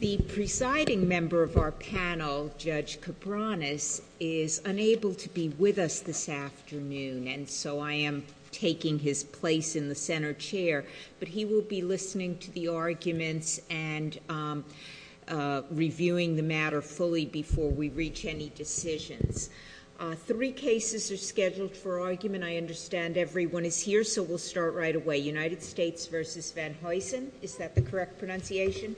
The presiding member of our panel, Judge Cabranes, is unable to be with us this afternoon, and so I am taking his place in the center chair, but he will be listening to the arguments and reviewing the matter fully before we reach any decisions. Three cases are scheduled for argument. I understand everyone is here, so we'll start right away. United States v. Van Heusen, is that the correct pronunciation?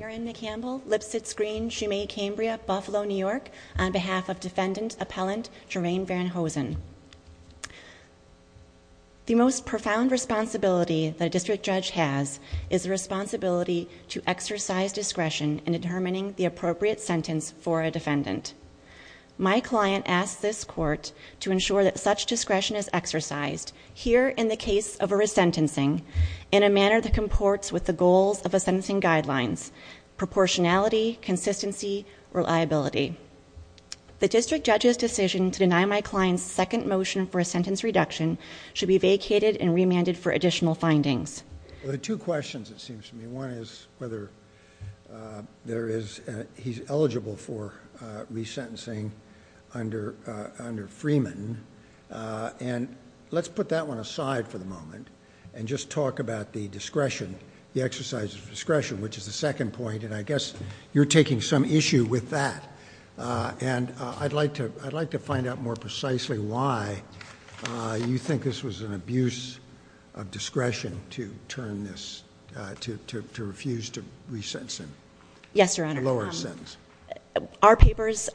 Erin McCampbell, Lipsitz Green, Shumay, Cambria, Buffalo, New York, on behalf of Defendant Appellant Jermaine Van Heusen. The most profound responsibility that a district judge has is the responsibility to exercise discretion in determining the appropriate sentence for a defendant. My client asks this court to ensure that such discretion is exercised, here in the case of a resentencing, in a manner that comports with the goals of the sentencing guidelines – proportionality, consistency, reliability. The district judge's decision to deny my client's second motion for a sentence reduction should be vacated and remanded for additional findings. The two questions, it seems to me, one is whether he's eligible for resentencing under Freeman, and let's put that one aside for the moment and just talk about the discretion, the exercise of discretion, which is the second point, and I guess you're taking some issue with that. And I'd like to find out more precisely why you think this was an abuse of discretion to turn this, to refuse to resentence him. Yes, Your Honor. A lower sentence. Our papers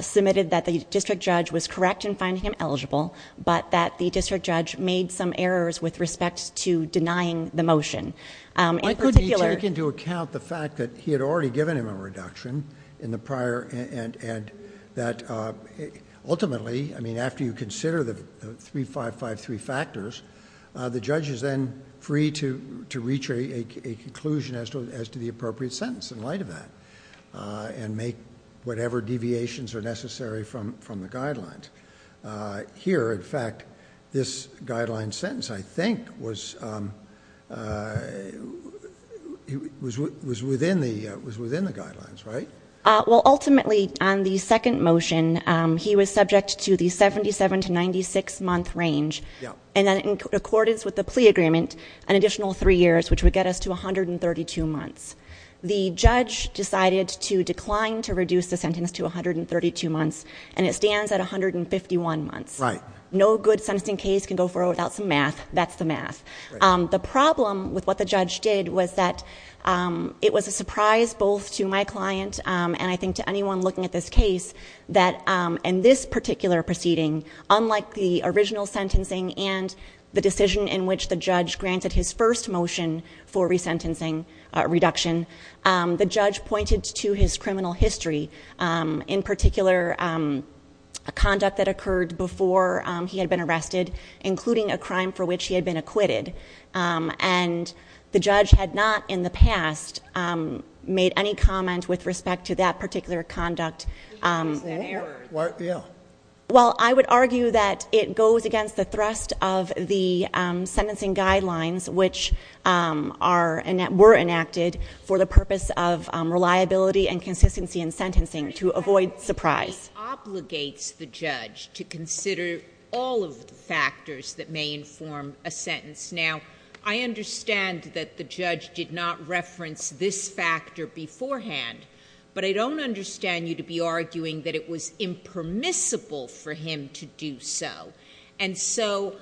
submitted that the district judge was correct in finding him eligible, but that the district judge made some errors with respect to denying the motion. Why couldn't he take into account the fact that he had already given him a reduction in the prior, and that ultimately, I mean, after you consider the three, five, five, three factors, the judge is then free to reach a conclusion as to the appropriate sentence in light of that, and make whatever deviations are necessary from the guidelines. Here, in fact, this guideline sentence, I think, was within the guidelines, right? Well, ultimately, on the second motion, he was subject to the seventy-seven to ninety-six month range, and then in accordance with the plea agreement, an additional three years, which would get us to a hundred and thirty-two months. The judge decided to decline to reduce the sentence to a hundred and thirty-two months, and it stands at a hundred and fifty-one months. Right. No good sentencing case can go forward without some math. That's the math. Right. The problem with what the judge did was that it was a surprise both to my client, and I think to anyone looking at this case, that in this particular proceeding, unlike the original sentencing and the decision in which the judge granted his first motion for resentencing reduction, the judge pointed to his criminal history, in particular a conduct that occurred before he had been arrested, including a crime for which he had been acquitted. And the judge had not in the past made any comment with respect to that particular conduct. Well, I would argue that it goes against the thrust of the sentencing guidelines, which were enacted for the purpose of reliability and consistency in sentencing, to avoid surprise. It obligates the judge to consider all of the factors that may inform a sentence. Now, I understand that the judge did not reference this factor beforehand, but I don't understand you to be arguing that it was impermissible for him to do so. And so,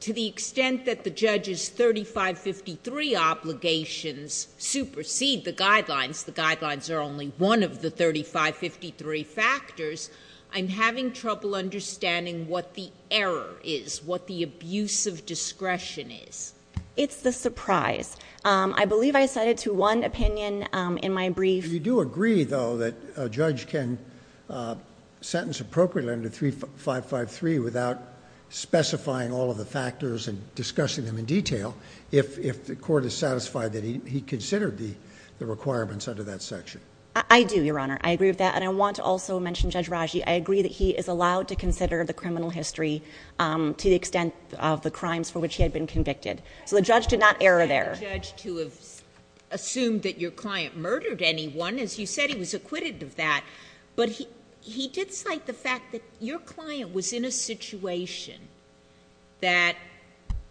to the extent that the judge's 3553 obligations supersede the guidelines, the guidelines are only one of the 3553 factors, I'm having trouble understanding what the error is, what the abuse of discretion is. It's the surprise. I believe I said it to one opinion in my brief. You do agree, though, that a judge can sentence appropriately under 3553 without specifying all of the factors and discussing them in detail, if the court is satisfied that he considered the requirements under that section. I do, Your Honor. I agree with that. And I want to also mention Judge Raji. I agree that he is allowed to consider the criminal history to the extent of the crimes for which he had been convicted. So, the judge did not err there. I don't want the judge to have assumed that your client murdered anyone. As you said, he was acquitted of that. But he did cite the fact that your client was in a situation that,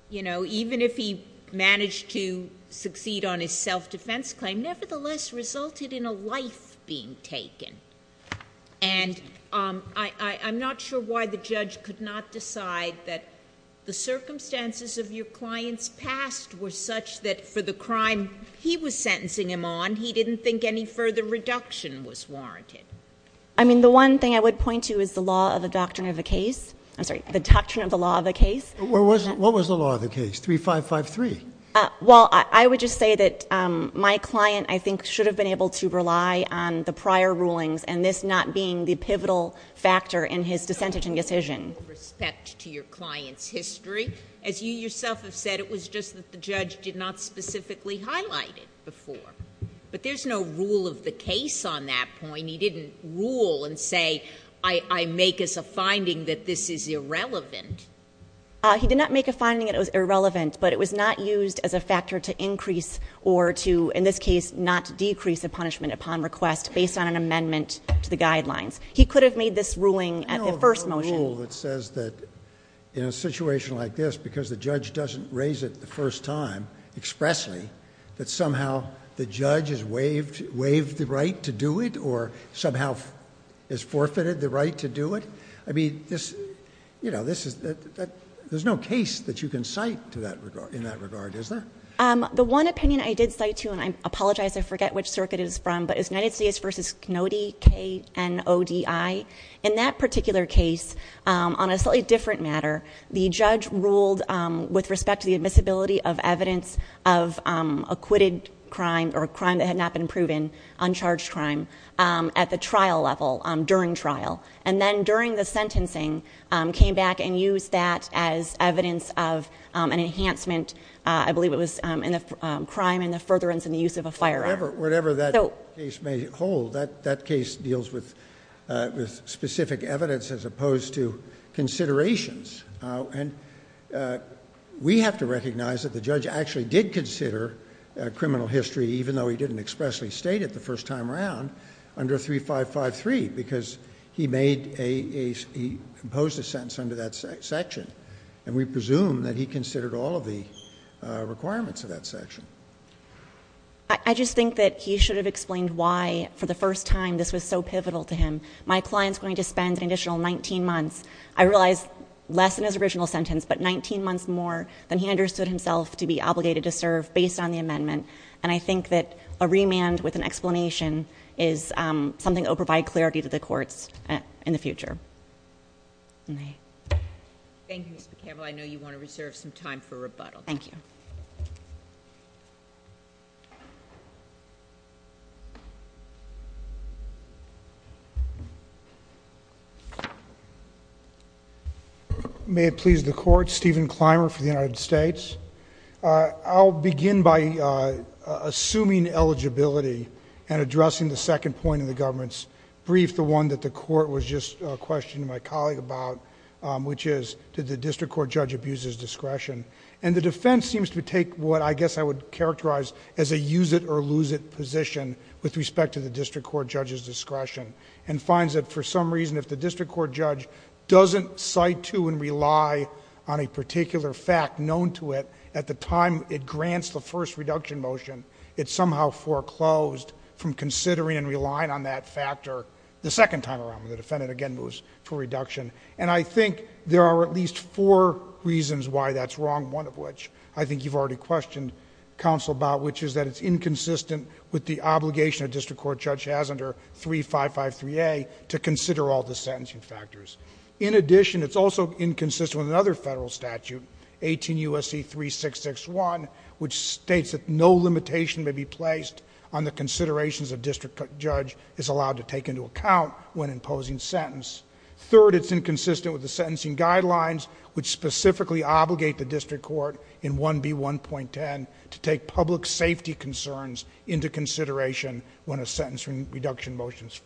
you know, even if he managed to succeed on his self-defense claim, nevertheless resulted in a life being taken. And I'm not sure why the judge could not decide that the circumstances of your client's past were such that, for the crime he was sentencing him on, he didn't think any further reduction was warranted. I mean, the one thing I would point to is the law of the doctrine of the case. I'm sorry, the doctrine of the law of the case. What was the law of the case? 3553? Well, I would just say that my client, I think, should have been able to rely on the prior rulings and this not being the pivotal factor in his dissenting decision. With respect to your client's history, as you yourself have said, it was just a matter that the judge did not specifically highlight it before. But there's no rule of the case on that point. He didn't rule and say, I make as a finding that this is irrelevant. He did not make a finding that it was irrelevant. But it was not used as a factor to increase or to, in this case, not decrease the punishment upon request based on an amendment to the guidelines. He could have made this ruling at the first motion. I know of no rule that says that in a situation like this, because the judge doesn't raise it the first time expressly, that somehow the judge has waived the right to do it or somehow has forfeited the right to do it. I mean, there's no case that you can cite in that regard, is there? The one opinion I did cite, too, and I apologize, I forget which circuit it's from, but it's United States v. Knodi, K-N-O-D-I. In that particular case, on a slightly different matter, the judge ruled with respect to the admissibility of evidence of acquitted crime or crime that had not been proven, uncharged crime, at the trial level, during trial. And then during the sentencing, came back and used that as evidence of an enhancement. I believe it was in the crime and the furtherance and the use of a firearm. Whatever that case may hold, that case deals with specific evidence as opposed to considerations. And we have to recognize that the judge actually did consider criminal history, even though he didn't expressly state it the first time around, under 3553, because he made a, he imposed a sentence under that section. And we presume that he considered all of the requirements of that section. I just think that he should have explained why, for the first time, this was so pivotal to him. My client's going to spend an additional 19 months, I realize, less than his original sentence, but 19 months more than he understood himself to be obligated to serve based on the amendment. And I think that a remand with an explanation is something that will provide clarity to the courts in the future. And I. Thank you, Ms. McCampbell. I know you want to reserve some time for rebuttal. Thank you. May it please the court. Stephen Clymer for the United States. I'll begin by assuming eligibility and addressing the second point in the government's brief, the one that the court was just questioning my colleague about, which is, did the district court judge abuse his discretion? And the defense seems to take what I guess I would characterize as a use it or lose it position with respect to the district court judge's discretion. And finds that for some reason, if the district court judge doesn't cite to and rely on a particular fact known to it at the time it grants the first reduction motion, it somehow foreclosed from considering and relying on that factor the second time around. The defendant again moves for reduction. And I think there are at least four reasons why that's wrong, one of which I think you've already questioned, counsel about which is that it's inconsistent with the obligation a district court judge has under 3553A to consider all the sentencing factors. In addition, it's also inconsistent with another federal statute, 18 USC 3661, which states that no limitation may be placed on the considerations a district judge is allowed to take into account when imposing sentence. Third, it's inconsistent with the sentencing guidelines, which specifically obligate the district court in 1B1.10 to take public safety concerns into consideration when a sentence reduction motion is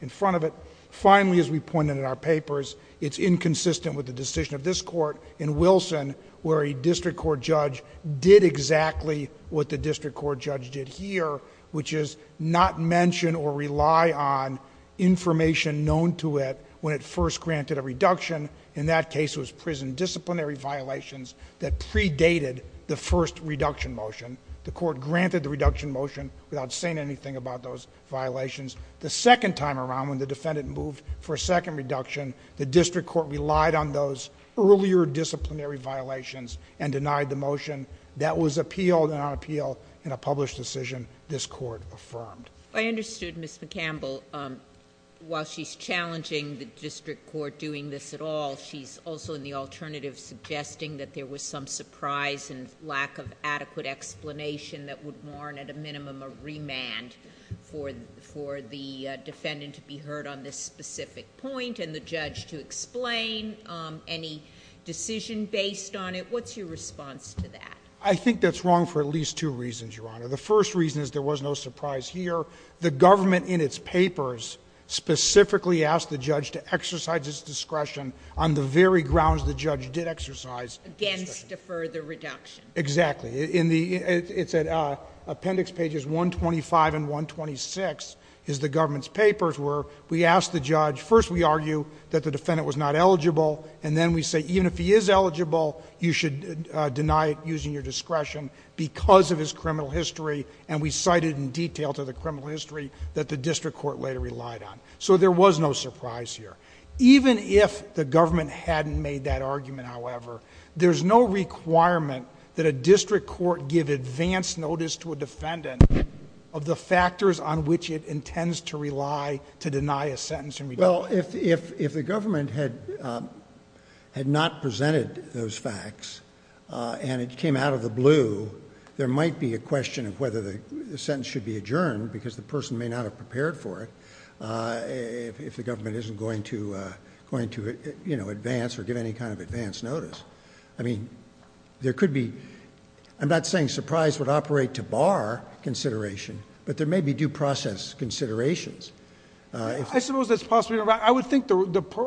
in front of it. Finally, as we pointed in our papers, it's inconsistent with the decision of this court in Wilson, where a district court judge did exactly what the district court judge did here, which is not mention or rely on information known to it when it first granted a reduction. In that case, it was prison disciplinary violations that predated the first reduction motion. The court granted the reduction motion without saying anything about those violations. The second time around, when the defendant moved for a second reduction, the district court relied on those earlier disciplinary violations and this court affirmed. I understood, Ms. McCampbell, while she's challenging the district court doing this at all, she's also in the alternative suggesting that there was some surprise and lack of adequate explanation that would warrant at a minimum a remand for the defendant to be heard on this specific point and the judge to explain any decision based on it. What's your response to that? The first reason is there was no surprise here. The government in its papers specifically asked the judge to exercise his discretion on the very grounds the judge did exercise. Against a further reduction. Exactly. It's at appendix pages 125 and 126 is the government's papers where we asked the judge. First we argue that the defendant was not eligible and then we say even if he is eligible, you should deny it using your discretion because of his criminal history and we cited in detail to the criminal history that the district court later relied on. So there was no surprise here. Even if the government hadn't made that argument, however, there's no requirement that a district court give advanced notice to a defendant of the factors on which it intends to rely to deny a sentence in redundancy. Well, if the government had not presented those facts and it came out of the blue, there might be a question of whether the sentence should be adjourned because the person may not have prepared for it. If the government isn't going to advance or give any kind of advance notice. I mean, there could be, I'm not saying surprise would operate to bar consideration, but there may be due process considerations. I suppose that's possibly right. I would think the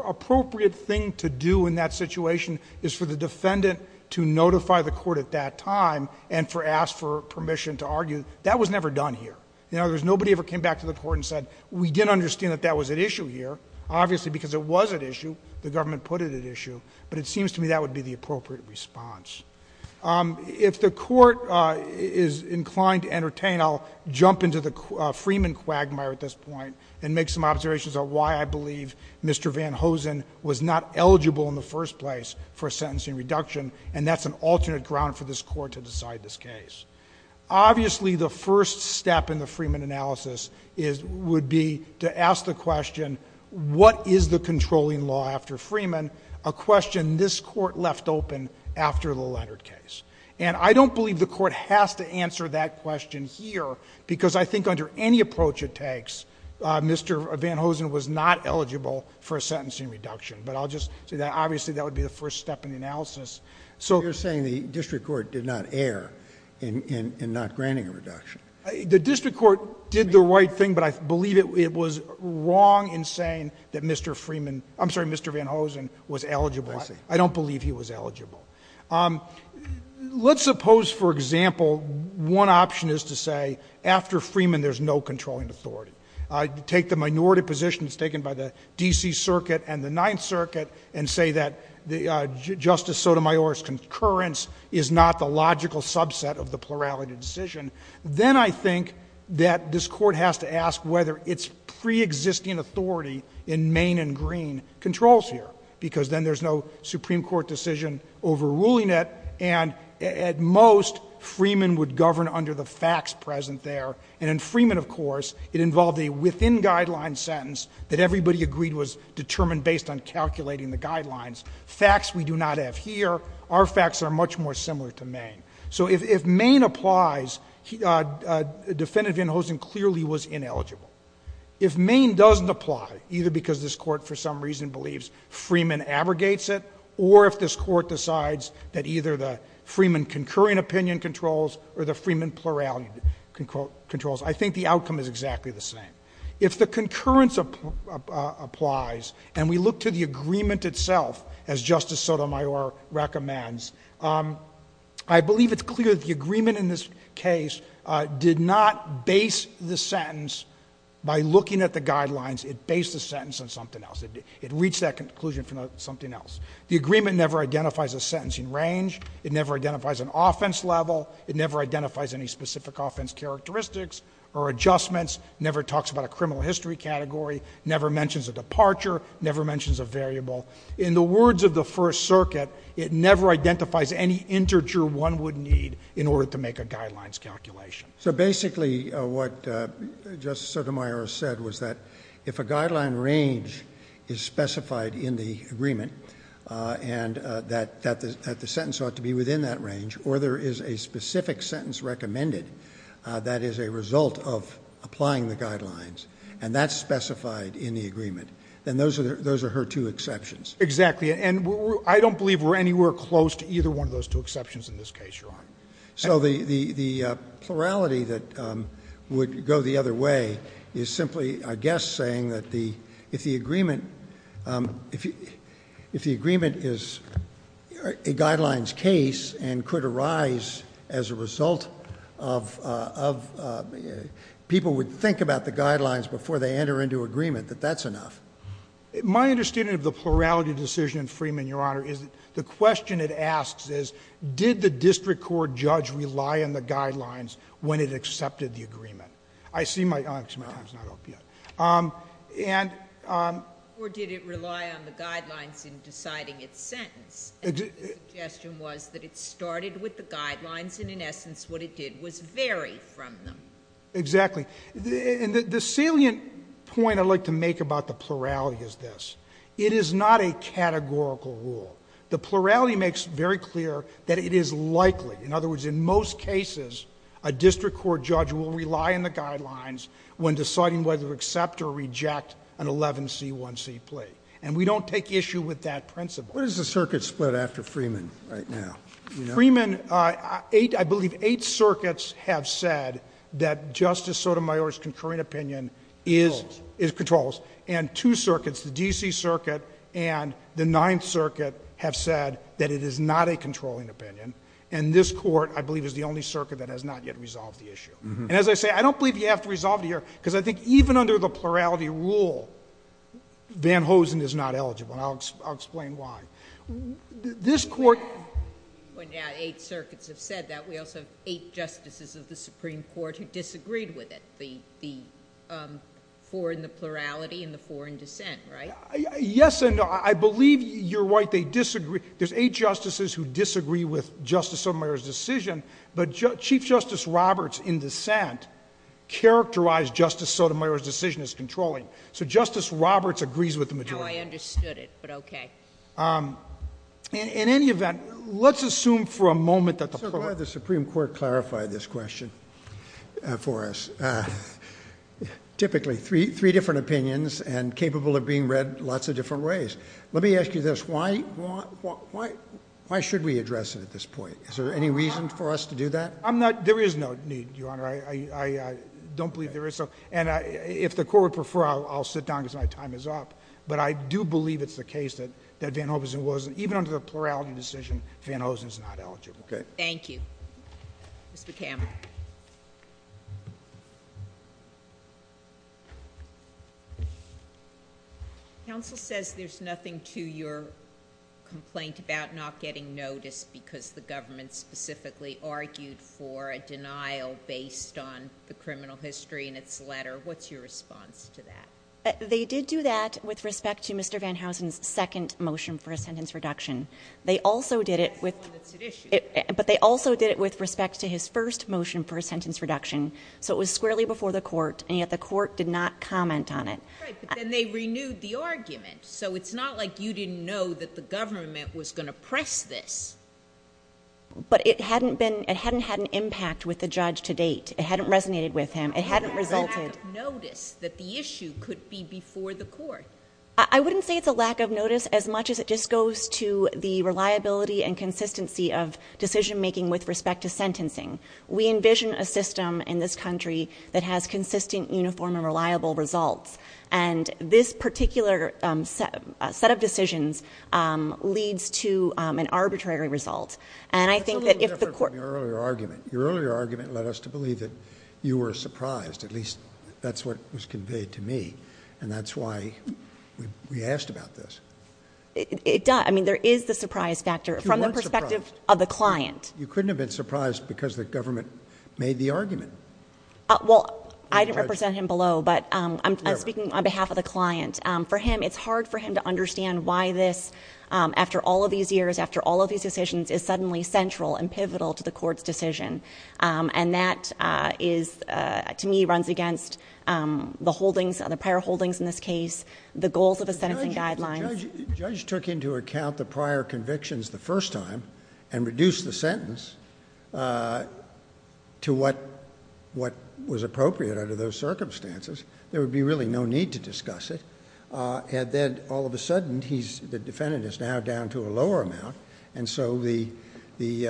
appropriate thing to do in that situation is for the defendant to notify the court at that time and for ask for permission to argue. That was never done here. You know, there's nobody ever came back to the court and said, we didn't understand that that was at issue here. Obviously, because it was at issue, the government put it at issue, but it seems to me that would be the appropriate response. If the court is inclined to entertain, I'll jump into the Freeman quagmire at this point and make some observations on why I believe Mr. Van Hosen was not eligible in the first place for a sentencing reduction, and that's an alternate ground for this court to decide this case. Obviously, the first step in the Freeman analysis would be to ask the question, what is the controlling law after Freeman, a question this court left open after the Leonard case? And I don't believe the court has to answer that question here, because I think under any approach it takes, Mr. Van Hosen was not eligible for a sentencing reduction, but I'll just say that obviously that would be the first step in the analysis. So- You're saying the district court did not err in not granting a reduction. The district court did the right thing, but I believe it was wrong in saying that Mr. Freeman, I'm sorry, Mr. Van Hosen was eligible, I don't believe he was eligible. Let's suppose, for example, one option is to say after Freeman there's no controlling authority. I take the minority positions taken by the DC circuit and the 9th circuit and say that Justice Sotomayor's concurrence is not the logical subset of the plurality decision. Then I think that this court has to ask whether its pre-existing authority in Maine and Green controls here, because then there's no Supreme Court decision overruling it. And at most, Freeman would govern under the facts present there. And in Freeman, of course, it involved a within guideline sentence that everybody agreed was determined based on calculating the guidelines. Facts we do not have here, our facts are much more similar to Maine. So if Maine applies, Defendant Van Hosen clearly was ineligible. If Maine doesn't apply, either because this court for some reason believes Freeman abrogates it, or if this court decides that either the Freeman concurring opinion controls or the Freeman plurality controls. I think the outcome is exactly the same. If the concurrence applies, and we look to the agreement itself, as Justice Sotomayor recommends, I believe it's clear that the agreement in this case did not base the sentence by looking at the guidelines, it based the sentence on something else. It reached that conclusion from something else. The agreement never identifies a sentencing range, it never identifies an offense level, it never identifies any specific offense characteristics or adjustments, never talks about a criminal history category, never mentions a departure, never mentions a variable. In the words of the First Circuit, it never identifies any integer one would need in order to make a guidelines calculation. So basically, what Justice Sotomayor said was that if a guideline range is specified in the agreement, and that the sentence ought to be within that range, or there is a specific sentence recommended that is a result of applying the guidelines, and that's specified in the agreement, then those are her two exceptions. Exactly, and I don't believe we're anywhere close to either one of those two exceptions in this case, Your Honor. So the plurality that would go the other way is simply, I guess saying that if the agreement is a guidelines case and it could arise as a result of people would think about the guidelines before they enter into agreement, that that's enough. My understanding of the plurality decision in Freeman, Your Honor, is the question it asks is, did the district court judge rely on the guidelines when it accepted the agreement? I see my time's not up yet, and- Or did it rely on the guidelines in deciding its sentence? The suggestion was that it started with the guidelines, and in essence, what it did was vary from them. Exactly, and the salient point I'd like to make about the plurality is this. It is not a categorical rule. The plurality makes very clear that it is likely, in other words, in most cases, a district court judge will rely on the guidelines when deciding whether to accept or reject an 11C1C plea. And we don't take issue with that principle. What is the circuit split after Freeman right now? Freeman, I believe eight circuits have said that Justice Sotomayor's concurring opinion is- Controls. Is controls, and two circuits, the DC Circuit and the Ninth Circuit, have said that it is not a controlling opinion. And this court, I believe, is the only circuit that has not yet resolved the issue. And as I say, I don't believe you have to resolve it here, because I think even under the plurality rule, Van Hosen is not eligible, and I'll explain why. This court- When eight circuits have said that, we also have eight justices of the Supreme Court who disagreed with it. The four in the plurality and the four in dissent, right? Yes and no, I believe you're right. There's eight justices who disagree with Justice Sotomayor's decision, but Chief Justice Roberts in dissent characterized Justice Sotomayor's decision as controlling. So Justice Roberts agrees with the majority. Now I understood it, but okay. In any event, let's assume for a moment that the- Sir, could I have the Supreme Court clarify this question for us? Typically, three different opinions and capable of being read lots of different ways. Let me ask you this, why should we address it at this point? Is there any reason for us to do that? I'm not, there is no need, Your Honor, I don't believe there is. And if the court would prefer, I'll sit down, because my time is up. But I do believe it's the case that Van Hosen wasn't, even under the plurality decision, Van Hosen's not eligible. Okay. Thank you. Mr. Campbell. Counsel says there's nothing to your complaint about not getting noticed because the government specifically argued for a denial based on the criminal history in its letter. What's your response to that? They did do that with respect to Mr. Van Hosen's second motion for a sentence reduction. They also did it with- That's the one that's at issue. But they also did it with respect to his first motion for a sentence reduction. So it was squarely before the court, and yet the court did not comment on it. Right, but then they renewed the argument, so it's not like you didn't know that the government was going to press this. But it hadn't been, it hadn't had an impact with the judge to date. It hadn't resonated with him. It hadn't resulted- It's a lack of notice that the issue could be before the court. I wouldn't say it's a lack of notice as much as it just goes to the reliability and consistency of decision making with respect to sentencing. We envision a system in this country that has consistent, uniform, and reliable results. And this particular set of decisions leads to an arbitrary result. And I think that if the court- That's a little different from your earlier argument. Your earlier argument led us to believe that you were surprised, at least that's what was conveyed to me. And that's why we asked about this. It does, I mean, there is the surprise factor from the perspective of the client. You couldn't have been surprised because the government made the argument. Well, I didn't represent him below, but I'm speaking on behalf of the client. For him, it's hard for him to understand why this, after all of these years, after all of these decisions, is suddenly central and pivotal to the court's decision. And that is, to me, runs against the holdings, the prior holdings in this case, the goals of the sentencing guidelines. Judge took into account the prior convictions the first time and reduced the sentence to what was appropriate under those circumstances. There would be really no need to discuss it. And then, all of a sudden, the defendant is now down to a lower amount. And so, his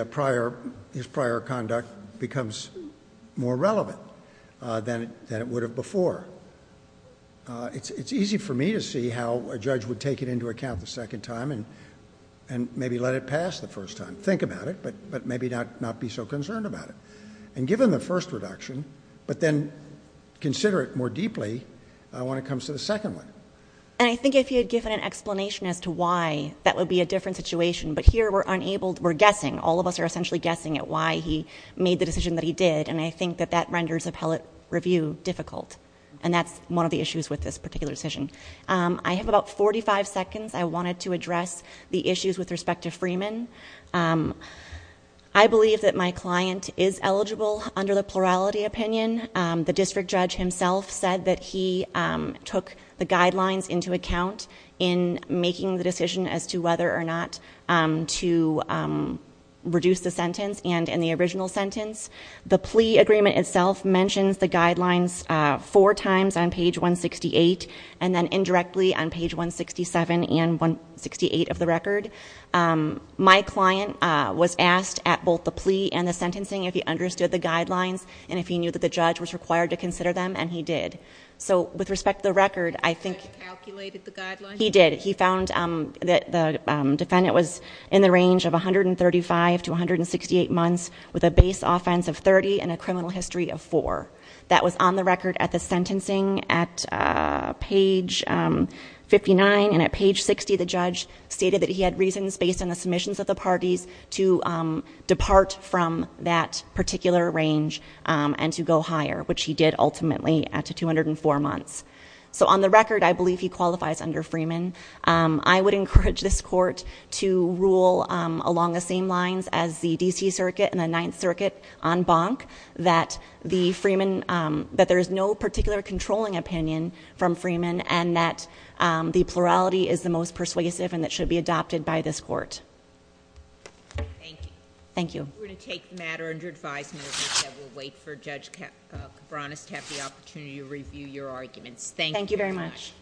prior conduct becomes more relevant than it would have before. It's easy for me to see how a judge would take it into account the second time and maybe let it pass the first time. Think about it, but maybe not be so concerned about it. And given the first reduction, but then consider it more deeply when it comes to the second one. And I think if he had given an explanation as to why, that would be a different situation. But here, we're guessing, all of us are essentially guessing at why he made the decision that he did. And I think that that renders appellate review difficult. And that's one of the issues with this particular decision. I have about 45 seconds. I wanted to address the issues with respect to Freeman. I believe that my client is eligible under the plurality opinion. The district judge himself said that he took the guidelines into account in making the decision as to whether or not to reduce the sentence and in the original sentence. The plea agreement itself mentions the guidelines four times on page 168 and then indirectly on page 167 and 168 of the record. My client was asked at both the plea and the sentencing if he understood the guidelines and if he knew that the judge was required to consider them, and he did. So, with respect to the record, I think- The judge calculated the guidelines? He did. He found that the defendant was in the range of 135 to 168 months with a base offense of 30 and a criminal history of four. That was on the record at the sentencing at page 59 and at page 60 the judge stated that he had reasons based on the submissions of the parties to depart from that particular range and to go higher, which he did ultimately at 204 months. So, on the record, I believe he qualifies under Freeman. I would encourage this court to rule along the same lines as the DC circuit and the Ninth Circuit on Bonk that there is no particular controlling opinion from Freeman and that the plurality is the most persuasive and it should be adopted by this court. Thank you. Thank you. We're going to take matter under advisement that we'll wait for Judge Cabranes to have the opportunity to review your arguments. Thank you very much.